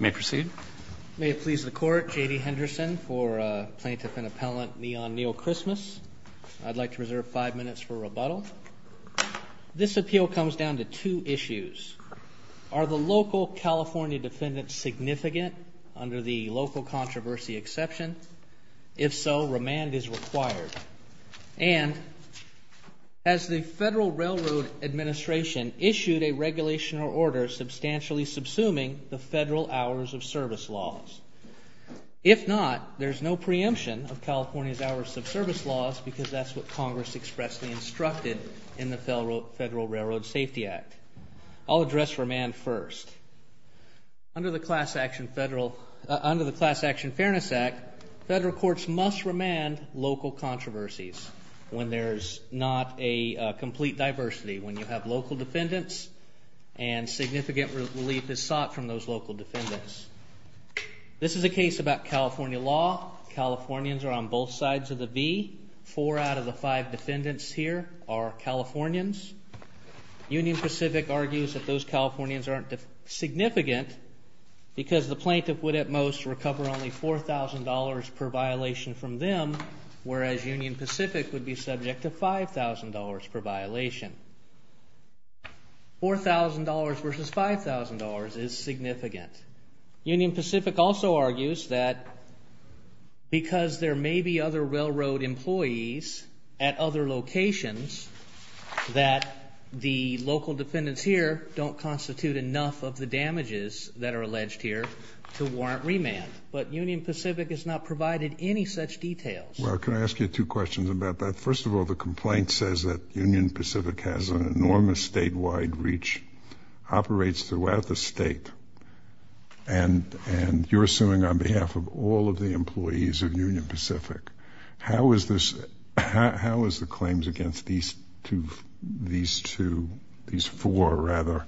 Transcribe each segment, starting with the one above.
May it please the Court, J.D. Henderson for Plaintiff and Appellant Eyon Neal Christmas. I'd like to reserve five minutes for rebuttal. This appeal comes down to two issues. Are the local California defendants significant under the local controversy exception? If so, remand is required. And has the Federal Railroad Administration issued a regulation or order substantially subsuming the federal hours of service laws? If not, there's no preemption of California's hours of service laws because that's what Congress expressly instructed in the Federal Railroad Safety Act. I'll address remand first. Under the Class Action Fairness Act, federal courts must remand local controversies when there's not a complete diversity, when you have local defendants and significant relief is sought from those local defendants. This is a case about California law. Californians are on both sides of the V. Four out of the five defendants here are Californians. Union Pacific argues that those Californians aren't significant because the plaintiff would at most recover only $4,000 per violation from them, whereas Union Pacific would be subject to $5,000 per violation. $4,000 versus $5,000 is significant. Union Pacific also argues that because there may be other railroad employees at other locations, that the local defendants here don't constitute enough of the damages that are alleged here to warrant remand. But Union Pacific has not provided any such details. Well, can I ask you two questions about that? First of all, the complaint says that Union Pacific has an enormous statewide reach, operates throughout the state, and you're suing on behalf of all of the employees of Union Pacific. How is the claims against these two, these four, rather,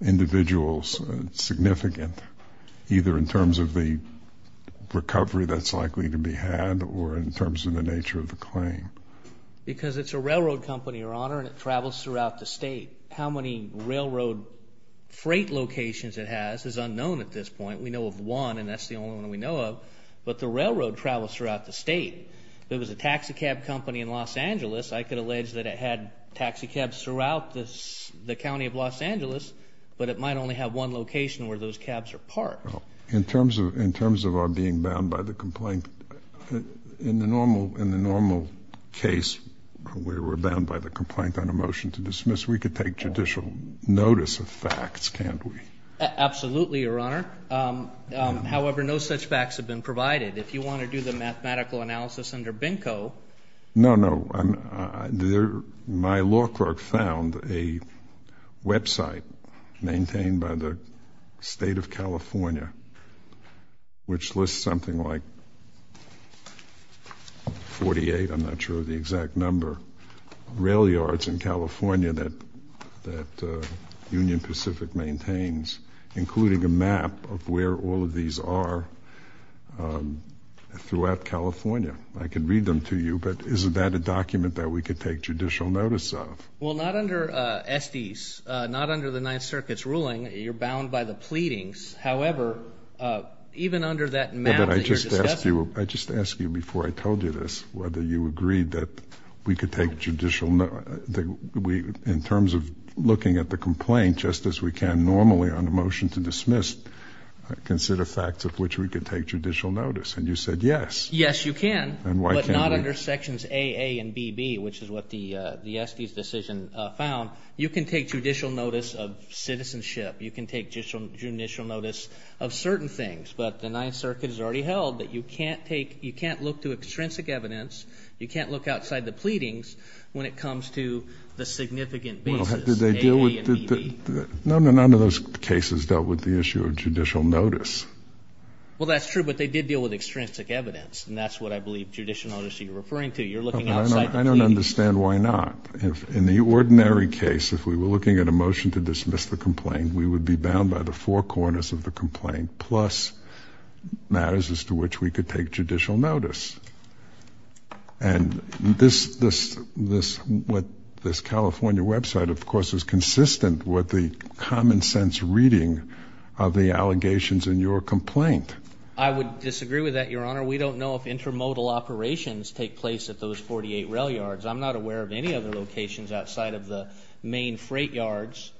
individuals significant, either in terms of the recovery that's likely to be had or in terms of the nature of the claim? Because it's a railroad company, Your Honor, and it travels throughout the state. How many railroad freight locations it has is unknown at this point. We know of one, and that's the only one we know of, but the railroad travels throughout the state. If it was a taxi cab company in Los Angeles, I could allege that it had taxi cabs throughout the county of Los Angeles, but it might only have one location where those cabs are parked. In terms of our being bound by the complaint, in the normal case, where we're bound by the complaint on a motion to dismiss, we could take judicial notice of facts, can't we? Absolutely, Your Honor. However, no such facts have been provided. If you want to do the mathematical analysis under BINCO. No, no. My law clerk found a website maintained by the state of California, which lists something like 48, I'm not sure of the exact number, rail yards in California that Union Pacific maintains, including a map of where all of these are throughout California. I can read them to you, but is that a document that we could take judicial notice of? Well, not under Estes, not under the Ninth Circuit's ruling, you're bound by the pleadings. However, even under that map that you're discussing- I just asked you before I told you this, whether you agreed that we could take judicial notice. In terms of looking at the complaint, just as we can normally on a motion to dismiss, consider facts of which we could take judicial notice, and you said yes. Yes, you can. And why can't we? But not under sections AA and BB, which is what the Estes decision found. You can take judicial notice of citizenship, you can take judicial notice of certain things, but the Ninth Circuit has already held that you can't look to extrinsic evidence, you can't look outside the pleadings when it comes to the significant basis, AA and BB. No, no, none of those cases dealt with the issue of judicial notice. Well, that's true, but they did deal with extrinsic evidence, and that's what I believe judicial notice you're referring to. You're looking outside the pleadings. I don't understand why not. In the ordinary case, if we were looking at a motion to dismiss the complaint, we would be bound by the four corners of the complaint, plus matters as to which we could take judicial notice. And what this California website, of course, is consistent with the common sense reading of the allegations in your complaint. I would disagree with that, Your Honor. We don't know if intermodal operations take place at those 48 rail yards. I'm not aware of any other locations outside of the main freight yards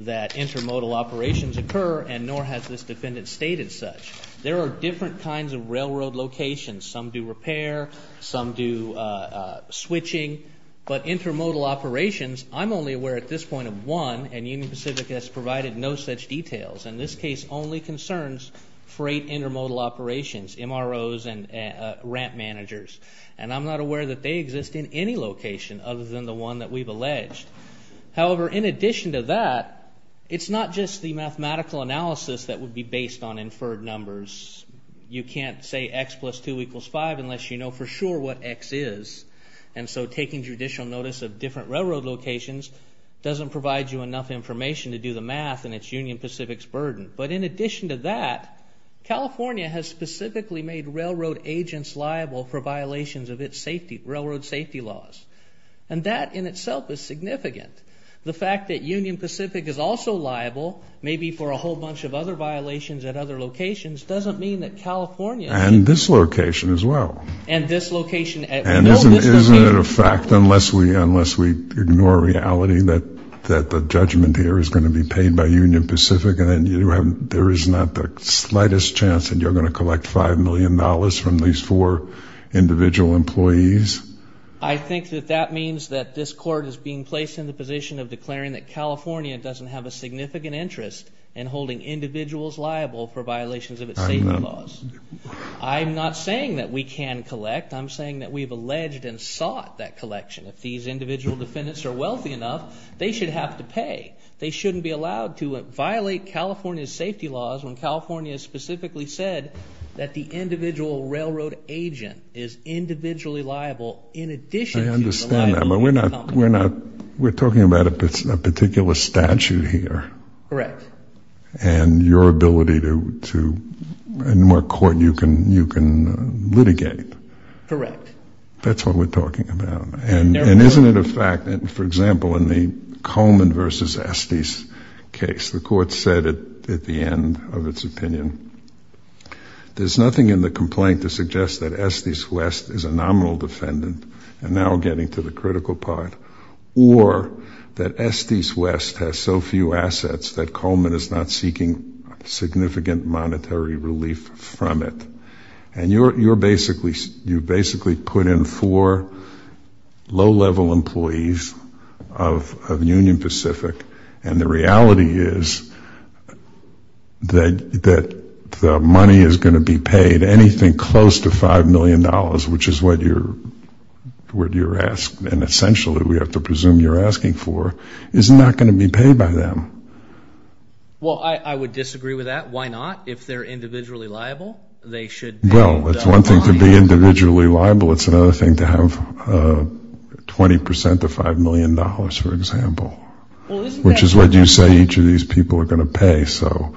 that intermodal operations occur, and nor has this defendant stated such. There are different kinds of railroad locations. Some do repair, some do switching, but intermodal operations, I'm only aware at this point of one, and Union Pacific has provided no such details. And this case only concerns freight intermodal operations, MROs and ramp managers. And I'm not aware that they exist in any location other than the one that we've alleged. However, in addition to that, it's not just the mathematical analysis that would be based on inferred numbers. You can't say x plus 2 equals 5 unless you know for sure what x is. And so taking judicial notice of different railroad locations doesn't provide you enough information to do the math, and it's Union Pacific's burden. But in addition to that, California has specifically made railroad agents liable for violations of its safety, railroad safety laws. And that in itself is significant. The fact that Union Pacific is also liable, maybe for a whole bunch of other violations at other locations, doesn't mean that California... And this location as well. And this location at... And isn't it a fact, unless we ignore reality, that the judgment here is going to be paid by Union Pacific, and there is not the slightest chance that you're going to collect $5 million from these four individual employees? I think that that means that this court is being placed in the position of declaring that California doesn't have a significant interest in holding individuals liable for violations of its safety laws. I'm not saying that we can collect. I'm saying that we've alleged and sought that collection. If these individual defendants are wealthy enough, they should have to pay. They shouldn't be allowed to violate California's safety laws when California specifically said that the individual railroad agent is individually liable in addition to the liability of the company. I understand that, but we're not... We're talking about a particular statute here. Correct. And your ability to... And what court you can litigate. Correct. That's what we're talking about. And isn't it a fact that, for example, in the Coleman versus Estes case, the court said at the end of its opinion, there's nothing in the complaint to suggest that Estes West is a nominal defendant and now getting to the critical part, or that Estes West has so few assets that Coleman is not seeking significant monetary relief from it. And you're basically... You basically put in four low-level employees of Union Pacific, and the reality is that the money is going to be paid. Anything close to $5 million, which is what you're asked, and essentially we have to presume you're asking for, is not going to be paid by them. Well, I would disagree with that. Why not? If they're individually liable, they should... Well, it's one thing to be individually liable. It's another thing to have 20% of $5 million, for example. Which is what you say each of these people are going to pay, so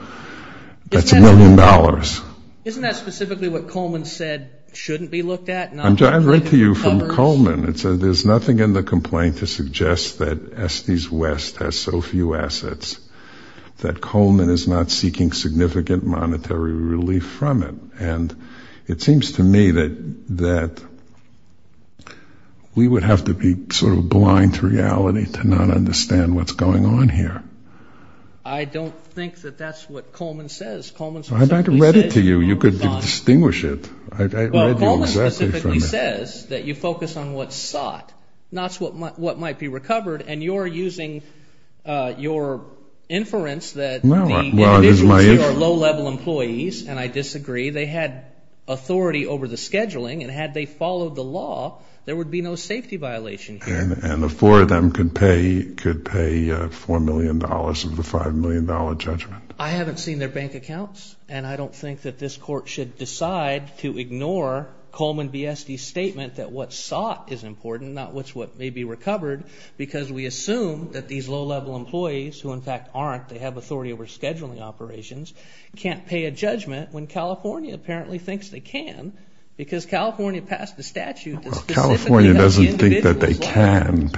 that's a million dollars. Isn't that specifically what Coleman said shouldn't be looked at? I'm trying to read to you from Coleman. It says, there's nothing in the complaint to suggest that Estes West has so few assets that Coleman is not seeking significant monetary relief from it. And it seems to me that we would have to be sort of blind to reality to not understand what's going on here. I don't think that that's what Coleman says. Coleman specifically said... I read it to you. You could distinguish it. I read you exactly from it. Well, Coleman specifically says that you focus on what's sought, not what might be recovered, and you're using your inference that the individuals who are low-level employees, and I disagree, they had authority over the scheduling, and had they followed the law, there would be no safety violation here. And the four of them could pay $4 million of the $5 million judgment. I haven't seen their bank accounts, and I don't think that this court should decide to ignore Coleman B. Estes' statement that what's sought is important, not what's what may be recovered, because we assume that these low-level employees, who in fact aren't, they have authority over scheduling operations, can't pay a judgment when California apparently thinks they can, because California passed a statute that specifically... Can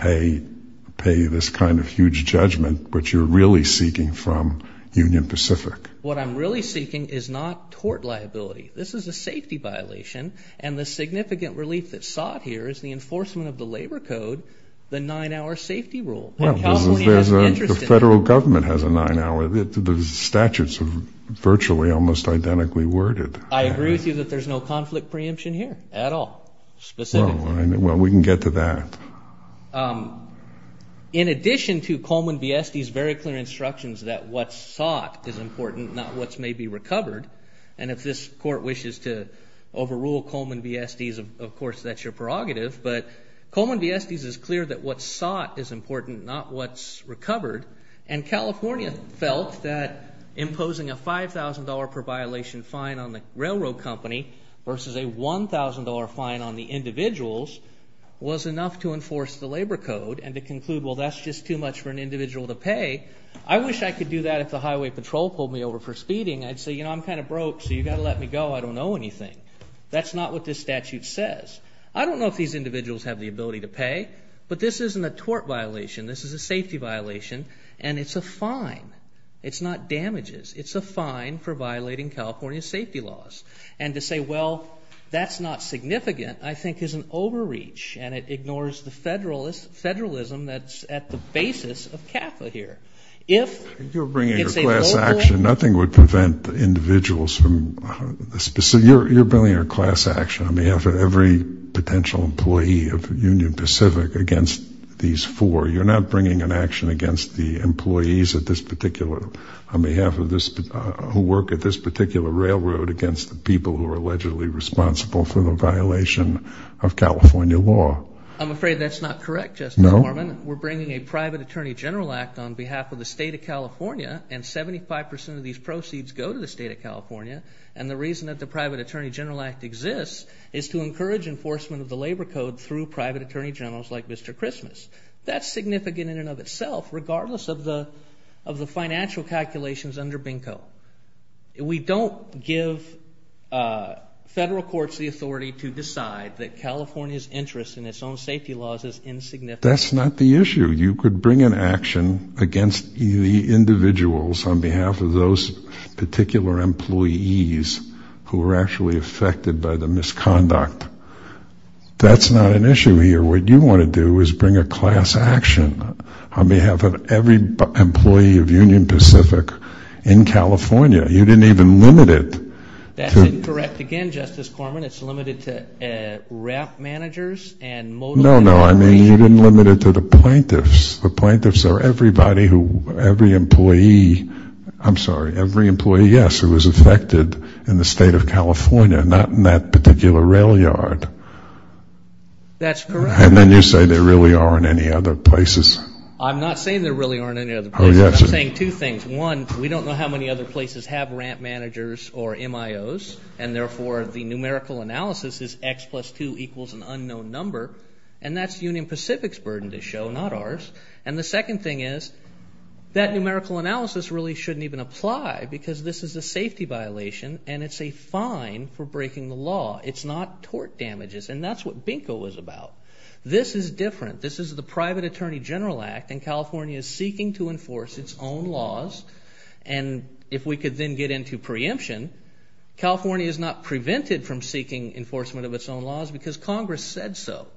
pay this kind of huge judgment, which you're really seeking from Union Pacific. What I'm really seeking is not tort liability. This is a safety violation, and the significant relief that's sought here is the enforcement of the labor code, the nine-hour safety rule. And California is interested in that. The federal government has a nine-hour. The statutes are virtually almost identically worded. I agree with you that there's no conflict preemption here at all, specifically. Well, we can get to that. In addition to Coleman B. Estes' very clear instructions that what's sought is important, not what's may be recovered, and if this court wishes to overrule Coleman B. Estes, of course, that's your prerogative, but Coleman B. Estes is clear that what's sought is important, not what's recovered. And California felt that imposing a $5,000 per violation fine on the railroad company versus a $1,000 fine on the individuals was enough to enforce the labor code and to conclude, well, that's just too much for an individual to pay. I wish I could do that if the highway patrol pulled me over for speeding. I'd say, you know, I'm kind of broke, so you've got to let me go. I don't know anything. That's not what this statute says. I don't know if these individuals have the ability to pay, but this isn't a tort violation. This is a safety violation, and it's a fine. It's not damages. It's a fine for violating California safety laws. And to say, well, that's not significant, I think, is an overreach, and it ignores the federalism that's at the basis of CAFA here. If it's a local... You're bringing a class action. Nothing would prevent the individuals from... You're bringing a class action on behalf of every potential employee of Union Pacific against these four. You're not bringing an action against the employees at this particular... On behalf of this... Who work at this particular railroad against the people who are allegedly responsible for the violation of California law. I'm afraid that's not correct, Justice Mormon. We're bringing a private attorney general act on behalf of the state of California, and 75% of these proceeds go to the state of California. And the reason that the private attorney general act exists is to encourage enforcement of the labor code through private attorney generals like Mr. Christmas. That's significant in and of itself, regardless of the financial calculations under BINCO. We don't give federal courts the authority to decide that California's interest in its own safety laws is insignificant. That's not the issue. You could bring an action against the individuals on behalf of those particular employees who were actually affected by the misconduct. That's not an issue here. What you want to do is bring a class action on behalf of every employee of Union Pacific in California. You didn't even limit it. That's incorrect again, Justice Corman. It's limited to RAP managers and... No, no, I mean, you didn't limit it to the plaintiffs. The plaintiffs are everybody who... Every employee... I'm sorry, every employee, yes, who was affected in the state of California, not in that particular rail yard. That's correct. And then you say there really aren't any other places. I'm not saying there really aren't any other places. I'm saying two things. One, we don't know how many other places have RAP managers or MIOs, and therefore the numerical analysis is X plus 2 equals an unknown number, and that's Union Pacific's burden to show, not ours. And the second thing is, that numerical analysis really shouldn't even apply because this is a safety violation and it's a fine for breaking the law. It's not tort damages, and that's what BINCO was about. This is different. This is the Private Attorney General Act, and California is seeking to enforce its own laws. And if we could then get into preemption, California is not prevented from seeking enforcement of its own laws because Congress said so.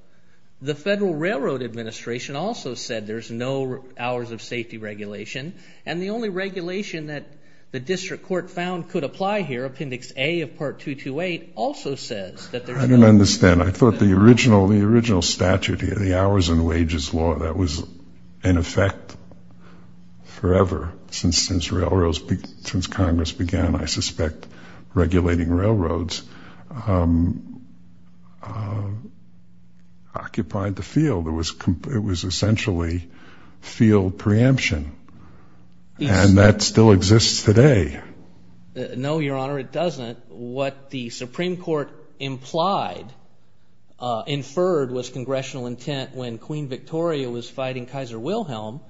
The Federal Railroad Administration also said there's no hours of safety regulation, and the only regulation that the district court found could apply here, Appendix A of Part 228, also says that there's no... I don't understand. I thought the original statute here, the hours and wages law, that was in effect forever, since Congress began, I suspect, regulating railroads, occupied the field. It was essentially field preemption, and that still exists today. No, Your Honor, it doesn't. What the Supreme Court implied, inferred was congressional intent when Queen Victoria was fighting Kaiser Wilhelm,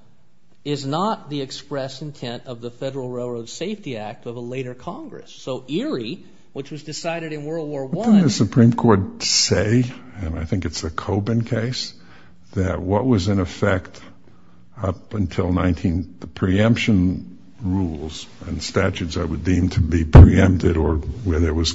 is not the express intent of the Federal Railroad Safety Act of a later Congress. So ERIE, which was decided in World War I... What did the Supreme Court say, and I think it's a Coben case, that what was in effect up until 19... The preemption rules and statutes that were deemed to be preempted or where there was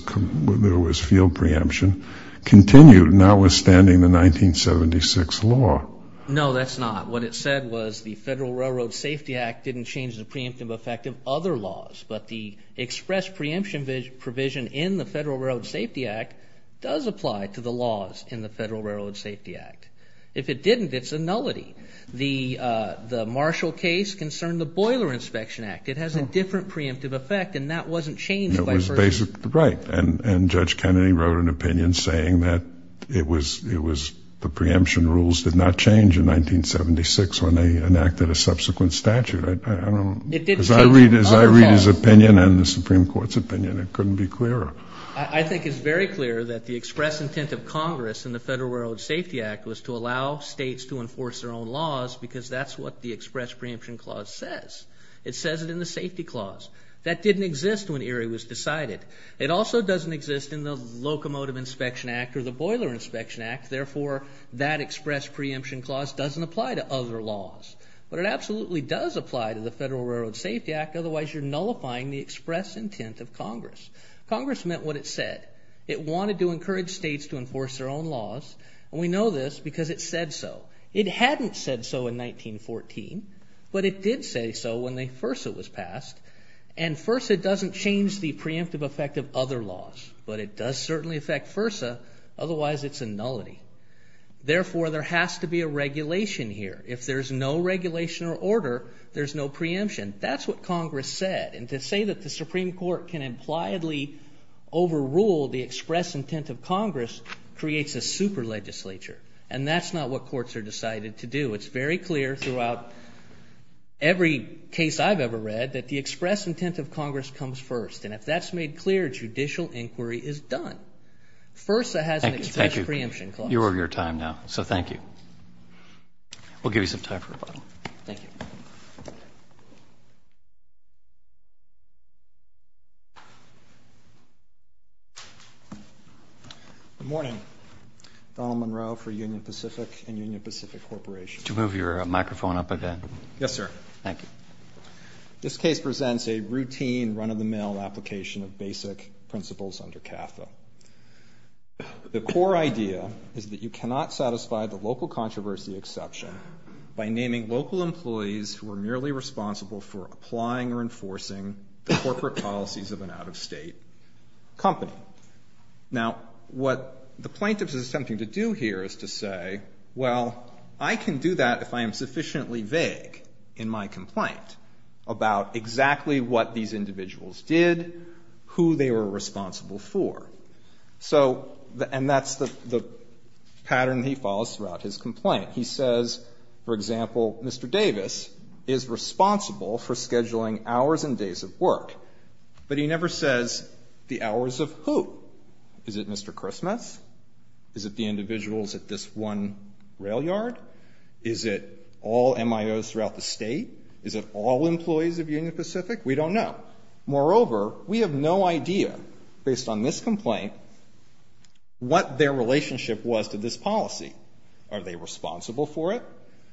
field preemption, continued, notwithstanding the 1976 law. No, that's not. What it said was the Federal Railroad Safety Act didn't change the preemptive effect of other laws, but the express preemption provision in the Federal Railroad Safety Act does apply to the laws in the Federal Railroad Safety Act. If it didn't, it's a nullity. The Marshall case concerned the Boiler Inspection Act. It has a different preemptive effect, and that wasn't changed by first... It was basically right, and Judge Kennedy wrote an opinion saying that it was... The preemption rules did not change in 1976 when they enacted a subsequent statute. I don't... It didn't change... As I read his opinion and the Supreme Court's opinion, it couldn't be clearer. I think it's very clear that the express intent of Congress in the Federal Railroad Safety Act was to allow states to enforce their own laws because that's what the express preemption clause says. It says it in the safety clause. That didn't exist when Erie was decided. It also doesn't exist in the Locomotive Inspection Act or the Boiler Inspection Act. Therefore, that express preemption clause doesn't apply to other laws, but it absolutely does apply to the Federal Railroad Safety Act. Otherwise, you're nullifying the express intent of Congress. Congress meant what it said. It wanted to encourage states to enforce their own laws, and we know this because it said so. It hadn't said so in 1914, but it did say so when the FERSA was passed, and FERSA doesn't change the preemptive effect of other laws, but it does certainly affect FERSA. Otherwise, it's a nullity. Therefore, there has to be a regulation here. If there's no regulation or order, there's no preemption. That's what Congress said, and to say that the Supreme Court can impliedly overrule the express intent of Congress creates a super legislature, and that's not what courts are decided to do. It's very clear throughout every case I've ever read that the express intent of Congress comes first, and if that's made clear, judicial inquiry is done. FERSA has an express preemption clause. Thank you. You're over your time now, so thank you. We'll give you some time for rebuttal. Thank you. Good morning. Donald Munroe for Union Pacific and Union Pacific Corporation. Could you move your microphone up a bit? Yes, sir. Thank you. This case presents a routine, run-of-the-mill application of basic principles under CAFTA. The core idea is that you cannot satisfy the local controversy exception by naming local employees who are merely responsible for applying or enforcing the corporate policies of an out-of-state company. Now, what the plaintiff is attempting to do here is to say, well, I can do that if I am sufficiently vague in my complaint about exactly what these individuals did, who they were responsible for. So, and that's the pattern he follows throughout his complaint. He says, for example, Mr. Davis is responsible for scheduling hours and days of work, but he never says the hours of who. Is it Mr. Christmas? Is it the individuals at this one rail yard? Is it all MIOs throughout the state? Is it all employees of Union Pacific? We don't know. Moreover, we have no idea, based on this complaint, what their relationship was to this policy. Are they responsible for it?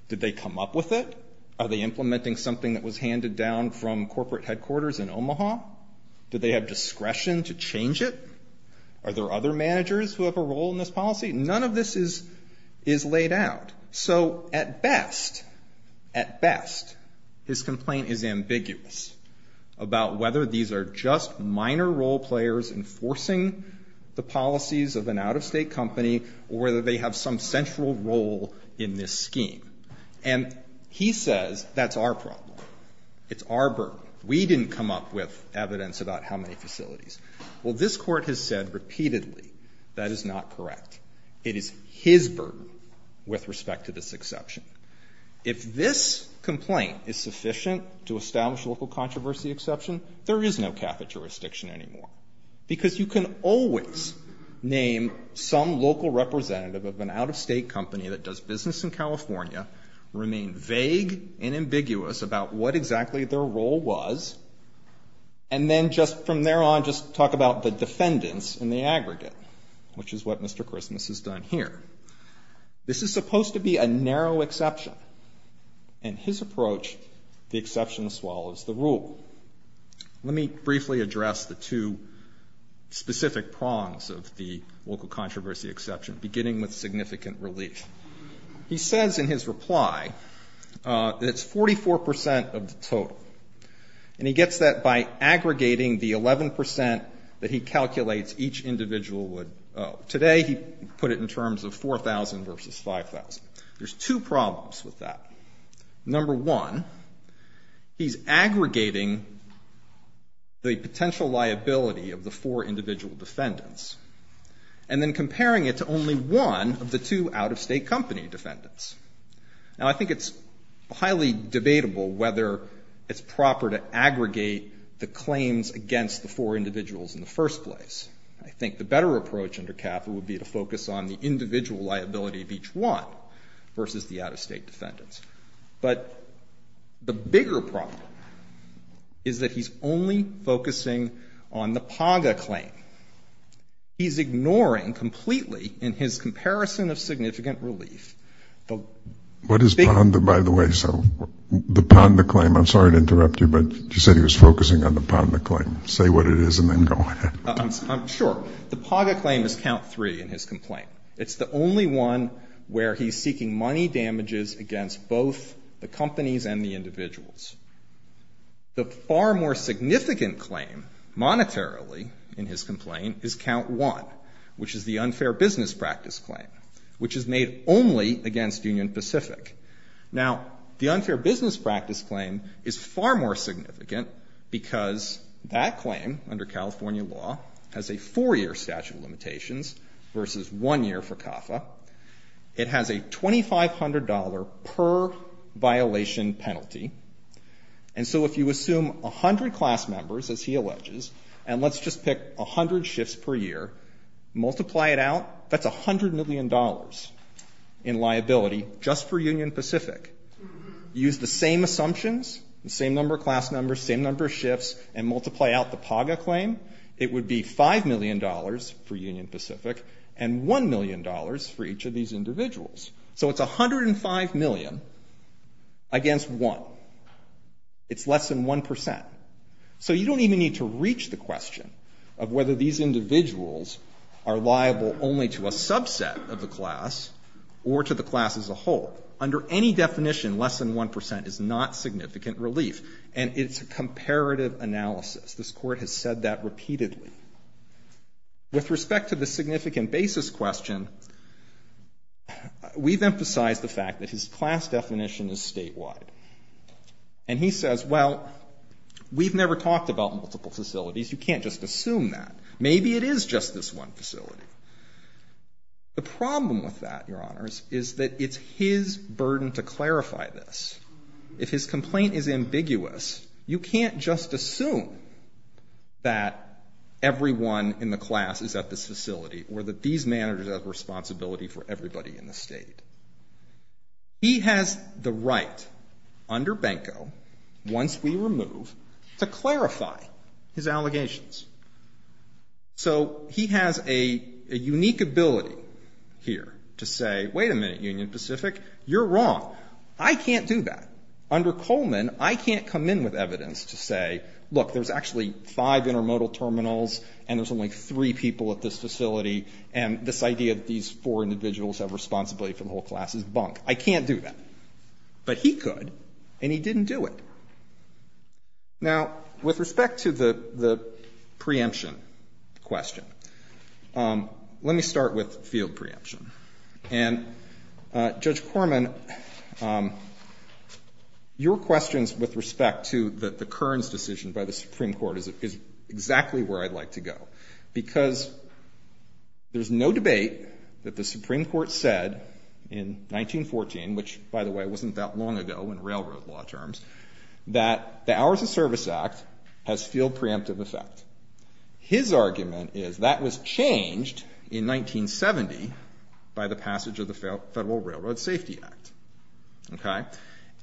Did they come up with it? Are they implementing something that was handed down from corporate headquarters in Omaha? Did they have discretion to change it? Are there other managers who have a role in this policy? None of this is laid out. So, at best, at best, his complaint is ambiguous about whether these are just minor role players enforcing the policies of an out-of-state company or whether they have some central role in this scheme. And he says, that's our problem. It's our burden. We didn't come up with evidence about how many facilities. Well, this Court has said repeatedly that is not correct. It is his burden with respect to this exception. If this complaint is sufficient to establish local controversy exception, there is no CAFA jurisdiction anymore because you can always name some local representative of an out-of-state company that does business in California, remain vague and ambiguous about what exactly their role was, and then just from there on, just talk about the defendants in the aggregate, which is what Mr. Christmas has done here. This is supposed to be a narrow exception. In his approach, the exception swallows the rule. Let me briefly address the two specific prongs of the local controversy exception, beginning with significant relief. He says in his reply that it's 44% of the total. And he gets that by aggregating the 11% that he calculates each individual would owe. Today, he put it in terms of 4,000 versus 5,000. There's two problems with that. Number one, he's aggregating the potential liability of the four individual defendants and then comparing it to only one of the two out-of-state company defendants. Now, I think it's highly debatable whether it's proper to aggregate the claims against the four individuals in the first place. I think the better approach under CAFA would be to focus on the individual liability of each one versus the out-of-state defendants. But the bigger problem is that he's only focusing on the PAGA claim. He's ignoring completely, in his comparison of significant relief, the... What is PONDA, by the way? So the PONDA claim, I'm sorry to interrupt you, but you said he was focusing on the PONDA claim. Say what it is and then go ahead. Sure. The PAGA claim is count three in his complaint. It's the only one where he's seeking money damages against both the companies and the individuals. The far more significant claim monetarily in his complaint is count one, which is the unfair business practice claim, which is made only against Union Pacific. Now, the unfair business practice claim is far more significant because that claim, under California law, versus one year for CAFA. It has a $2,500 per violation penalty. And so if you assume 100 class members, as he alleges, and let's just pick 100 shifts per year, multiply it out, that's $100 million in liability just for Union Pacific. Use the same assumptions, the same number of class numbers, same number of shifts, and multiply out the PAGA claim, it would be $5 million for Union Pacific and $1 million for each of these individuals. So it's 105 million against one. It's less than 1%. So you don't even need to reach the question of whether these individuals are liable only to a subset of the class or to the class as a whole. Under any definition, less than 1% is not significant relief and it's a comparative analysis. This court has said that repeatedly. With respect to the significant basis question, we've emphasized the fact that his class definition is statewide. And he says, well, we've never talked about multiple facilities. You can't just assume that. Maybe it is just this one facility. The problem with that, Your Honors, is that it's his burden to clarify this. If his complaint is ambiguous, you can't just assume that everyone in the class is at this facility or that these managers have responsibility for everybody in the state. He has the right, under Benko, once we remove, to clarify his allegations. So he has a unique ability here to say, wait a minute, Union Pacific, you're wrong. I can't do that. Under Coleman, I can't come in with evidence to say, look, there's actually five intermodal terminals and there's only three people at this facility. And this idea that these four individuals have responsibility for the whole class is bunk. I can't do that. But he could and he didn't do it. Now, with respect to the preemption question, let me start with field preemption. And Judge Corman, your questions with respect to the Kearns decision by the Supreme Court is exactly where I'd like to go. Because there's no debate that the Supreme Court said in 1914, which, by the way, wasn't that long ago in railroad law terms, that the Hours of Service Act has field preemptive effect. His argument is that was changed in 1970 by the passage of the Federal Railroad Safety Act.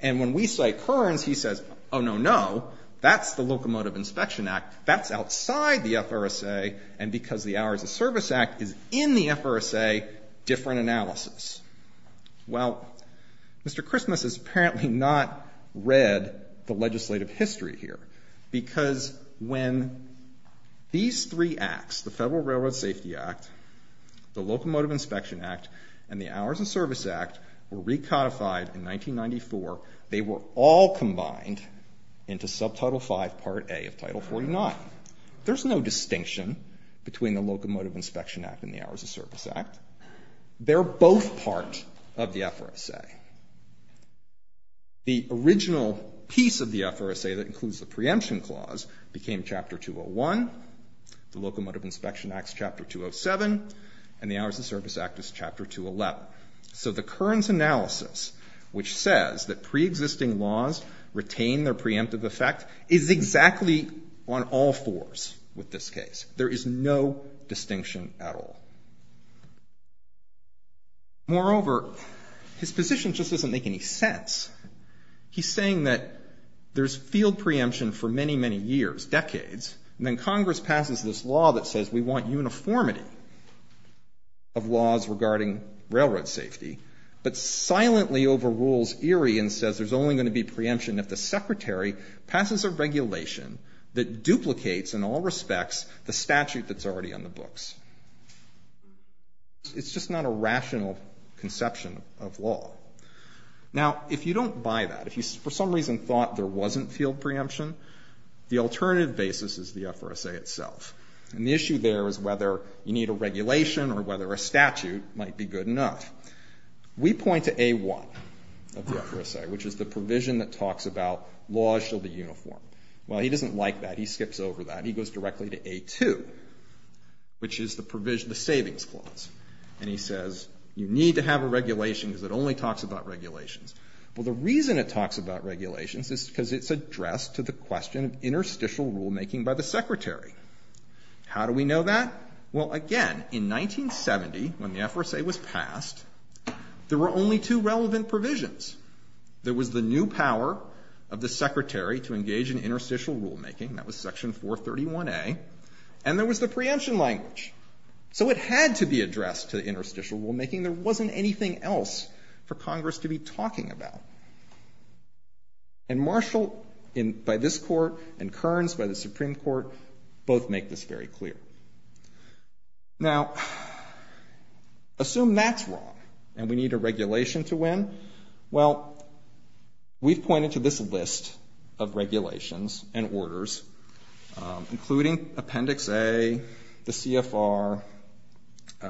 And when we say Kearns, he says, oh, no, no. That's the Locomotive Inspection Act. That's outside the FRSA. And because the Hours of Service Act is in the FRSA, different analysis. Well, Mr. Christmas has apparently not read the legislative history here. Because when these three acts, the Federal Railroad Safety Act, were recodified in 1994, they were all combined into Subtitle 5, Part A of Title 49. There's no distinction between the Locomotive Inspection Act and the Hours of Service Act. They're both part of the FRSA. The original piece of the FRSA that includes the preemption clause became Chapter 201, the Locomotive Inspection Act is Chapter 207, and the Hours of Service Act is Chapter 211. So the Kearns analysis, which says that preexisting laws retain their preemptive effect, is exactly on all fours with this case. There is no distinction at all. Moreover, his position just doesn't make any sense. He's saying that there's field preemption for many, many years, decades. And then Congress passes this law that says we want uniformity of laws regarding railroad safety, but silently overrules Erie and says there's only going to be preemption if the Secretary passes a regulation that duplicates, in all respects, the statute that's already on the books. It's just not a rational conception of law. Now, if you don't buy that, if you for some reason thought there wasn't field preemption, the alternative basis is the FRSA itself. And the issue there is whether you need a regulation or whether a statute might be good enough. We point to A1 of the FRSA, which is the provision that talks about laws shall be uniform. Well, he doesn't like that. He skips over that. He goes directly to A2, which is the Savings Clause. And he says you need to have a regulation because it only talks about regulations. Well, the reason it talks about regulations is because it's addressed to the question of interstitial rulemaking by the Secretary. How do we know that? Well, again, in 1970, when the FRSA was passed, there were only two relevant provisions. There was the new power of the Secretary to engage in interstitial rulemaking. That was Section 431A. And there was the preemption language. So it had to be addressed to interstitial rulemaking. There wasn't anything else for Congress to be talking about. And Marshall, by this court, and Kearns, by the Supreme Court, both make this very clear. Now, assume that's wrong and we need a regulation to win. Well, we've pointed to this list of regulations and orders, including Appendix A, the CFR,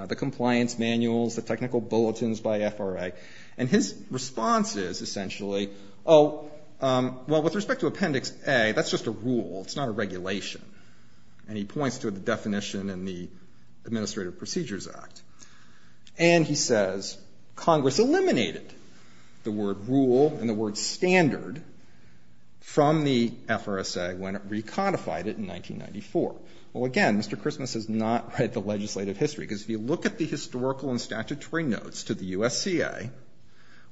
the compliance manuals, the technical bulletins by FRA. And his response is essentially, oh, well, with respect to Appendix A, that's just a rule. It's not a regulation. And he points to the definition in the Administrative Procedures Act. And he says, Congress eliminated the word rule and the word standard from the FRSA when it recodified it in 1994. Well, again, Mr. Christmas has not read the legislative history, because if you look at the historical and statutory notes to the USCA,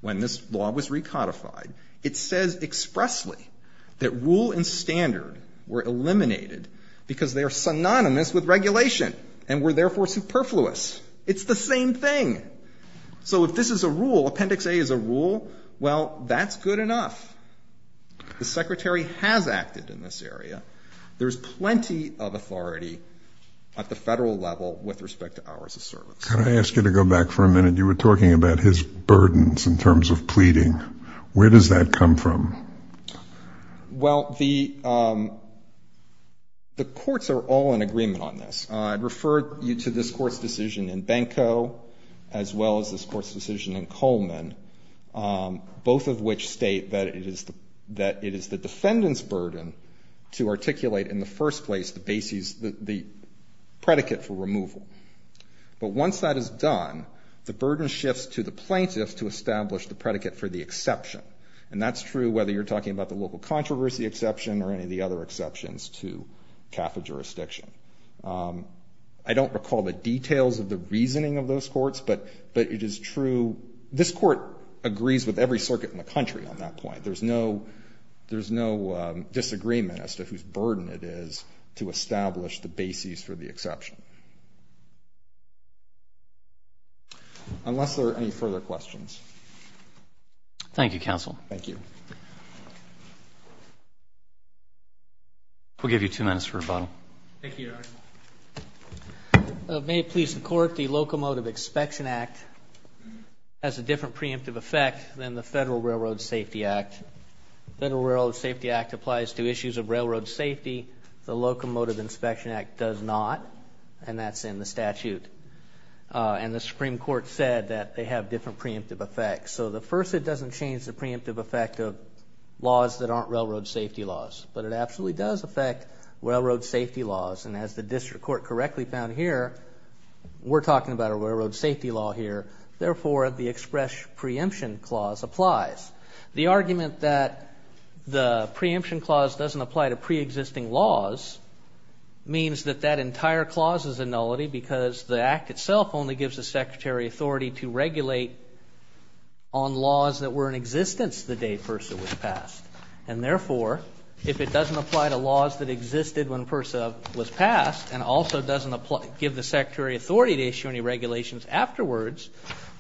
when this law was recodified, it says expressly that rule and standard were eliminated because they are synonymous with regulation and were therefore superfluous. It's the same thing. So if this is a rule, Appendix A is a rule, well, that's good enough. The Secretary has acted in this area. There's plenty of authority at the federal level with respect to hours of service. Can I ask you to go back for a minute? You were talking about his burdens in terms of pleading. Where does that come from? Well, the courts are all in agreement on this. I'd refer you to this court's decision in Benko, as well as this court's decision in Coleman, both of which state that it is the defendant's burden to articulate in the first place the predicate for removal. But once that is done, the burden shifts to the plaintiffs to establish the predicate for the exception. And that's true whether you're talking about the local controversy exception or any of the other exceptions to CAFA jurisdiction. I don't recall the details of the reasoning of those courts, but it is true. This court agrees with every circuit in the country on that point. There's no disagreement as to whose burden it is to establish the basis for the exception, unless there are any further questions. Thank you, counsel. Thank you. We'll give you two minutes for rebuttal. Thank you, Your Honor. May it please the court, the Locomotive Inspection Act has a different preemptive effect than the Federal Railroad Safety Act. Federal Railroad Safety Act applies to issues of railroad safety. The Locomotive Inspection Act does not. And that's in the statute. And the Supreme Court said that they have different preemptive effects. So the first, it doesn't change the preemptive effect of laws that aren't railroad safety laws. But it absolutely does affect railroad safety laws. And as the district court correctly found here, we're talking about a railroad safety law here. Therefore, the express preemption clause applies. The argument that the preemption clause doesn't apply to pre-existing laws means that that entire clause is a nullity, because the act itself only gives the Secretary authority to regulate on laws that were in existence the day PERSA was passed. And therefore, if it doesn't apply to laws that existed when PERSA was passed, and also doesn't give the Secretary authority to issue any regulations afterwards,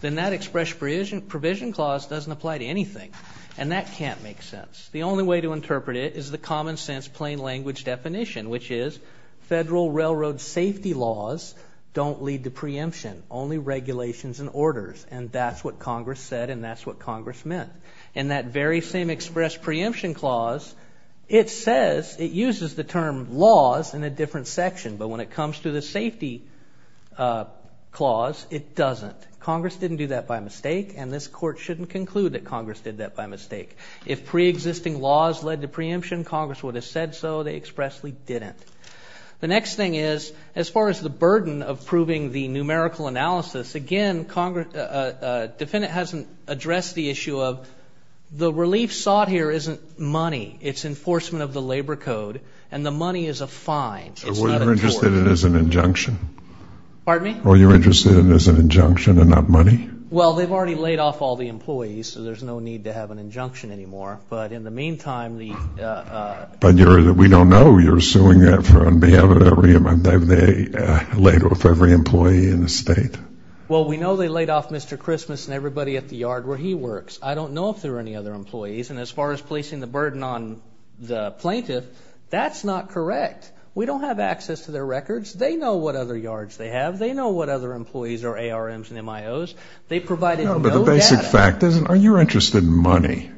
then that express provision clause doesn't apply to anything. And that can't make sense. The only way to interpret it is the common sense plain language definition, which is federal railroad safety laws don't lead to preemption, only regulations and orders. And that's what Congress said. And that's what Congress meant. And that very same express preemption clause, it says it uses the term laws in a different section. But when it comes to the safety clause, it doesn't. Congress didn't do that by mistake. And this court shouldn't conclude that Congress did that by mistake. If pre-existing laws led to preemption, Congress would have said so. They expressly didn't. The next thing is, as far as the burden of proving the numerical analysis, again, a defendant hasn't addressed the issue of the relief sought here isn't money. It's enforcement of the labor code. And the money is a fine. It's not a tort. So you're interested in it as an injunction? Pardon me? Or you're interested in it as an injunction and not money? Well, they've already laid off all the employees. So there's no need to have an injunction anymore. But in the meantime, the- But we don't know. You're suing them for unbehaving of every employee in the state. Well, we know they laid off Mr. Christmas and everybody at the yard where he works. I don't know if there are any other employees. And as far as placing the burden on the plaintiff, that's not correct. We don't have access to their records. They know what other yards they have. They know what other employees are ARMs and MIOs. They provided no data. But the basic fact is, are you interested in money?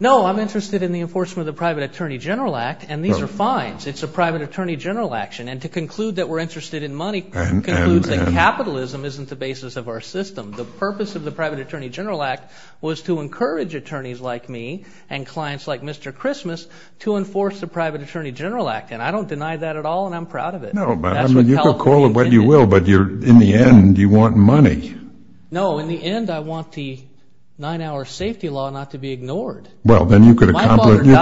No, I'm interested in the enforcement of the Private Attorney General Act. And these are fines. It's a private attorney general action. And to conclude that we're interested in money concludes that capitalism isn't the basis of our system. The purpose of the Private Attorney General Act was to encourage attorneys like me and clients like Mr. Christmas to enforce the Private Attorney General Act. And I don't deny that at all. And I'm proud of it. No, but I mean, you can call it what you will. But in the end, you want money. No, in the end, I want the nine-hour safety law not to be ignored. Well, then you could accomplish more.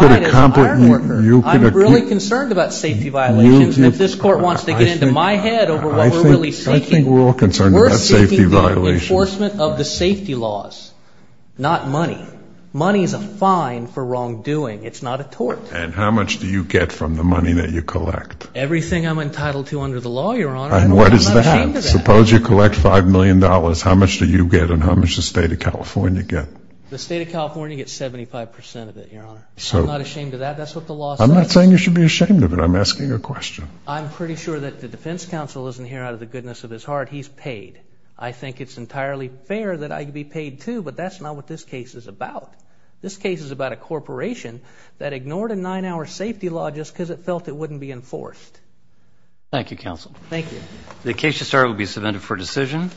I'm really concerned about safety violations. And if this court wants to get into my head over what we're really seeking, we're seeking the enforcement of the safety laws, not money. Money is a fine for wrongdoing. It's not a tort. And how much do you get from the money that you collect? Everything I'm entitled to under the law, Your Honor. And what does that have? Suppose you collect $5 million. How much do you get? And how much does the state of California get? The state of California gets 75% of it, Your Honor. I'm not ashamed of that. That's what the law says. I'm not saying you should be ashamed of it. I'm asking a question. I'm pretty sure that the defense counsel isn't here out of the goodness of his heart. He's paid. I think it's entirely fair that I could be paid, too. But that's not what this case is about. This case is about a corporation that ignored a nine-hour safety law just because it felt it wouldn't be enforced. Thank you, counsel. Thank you. The case to start will be submitted for decision.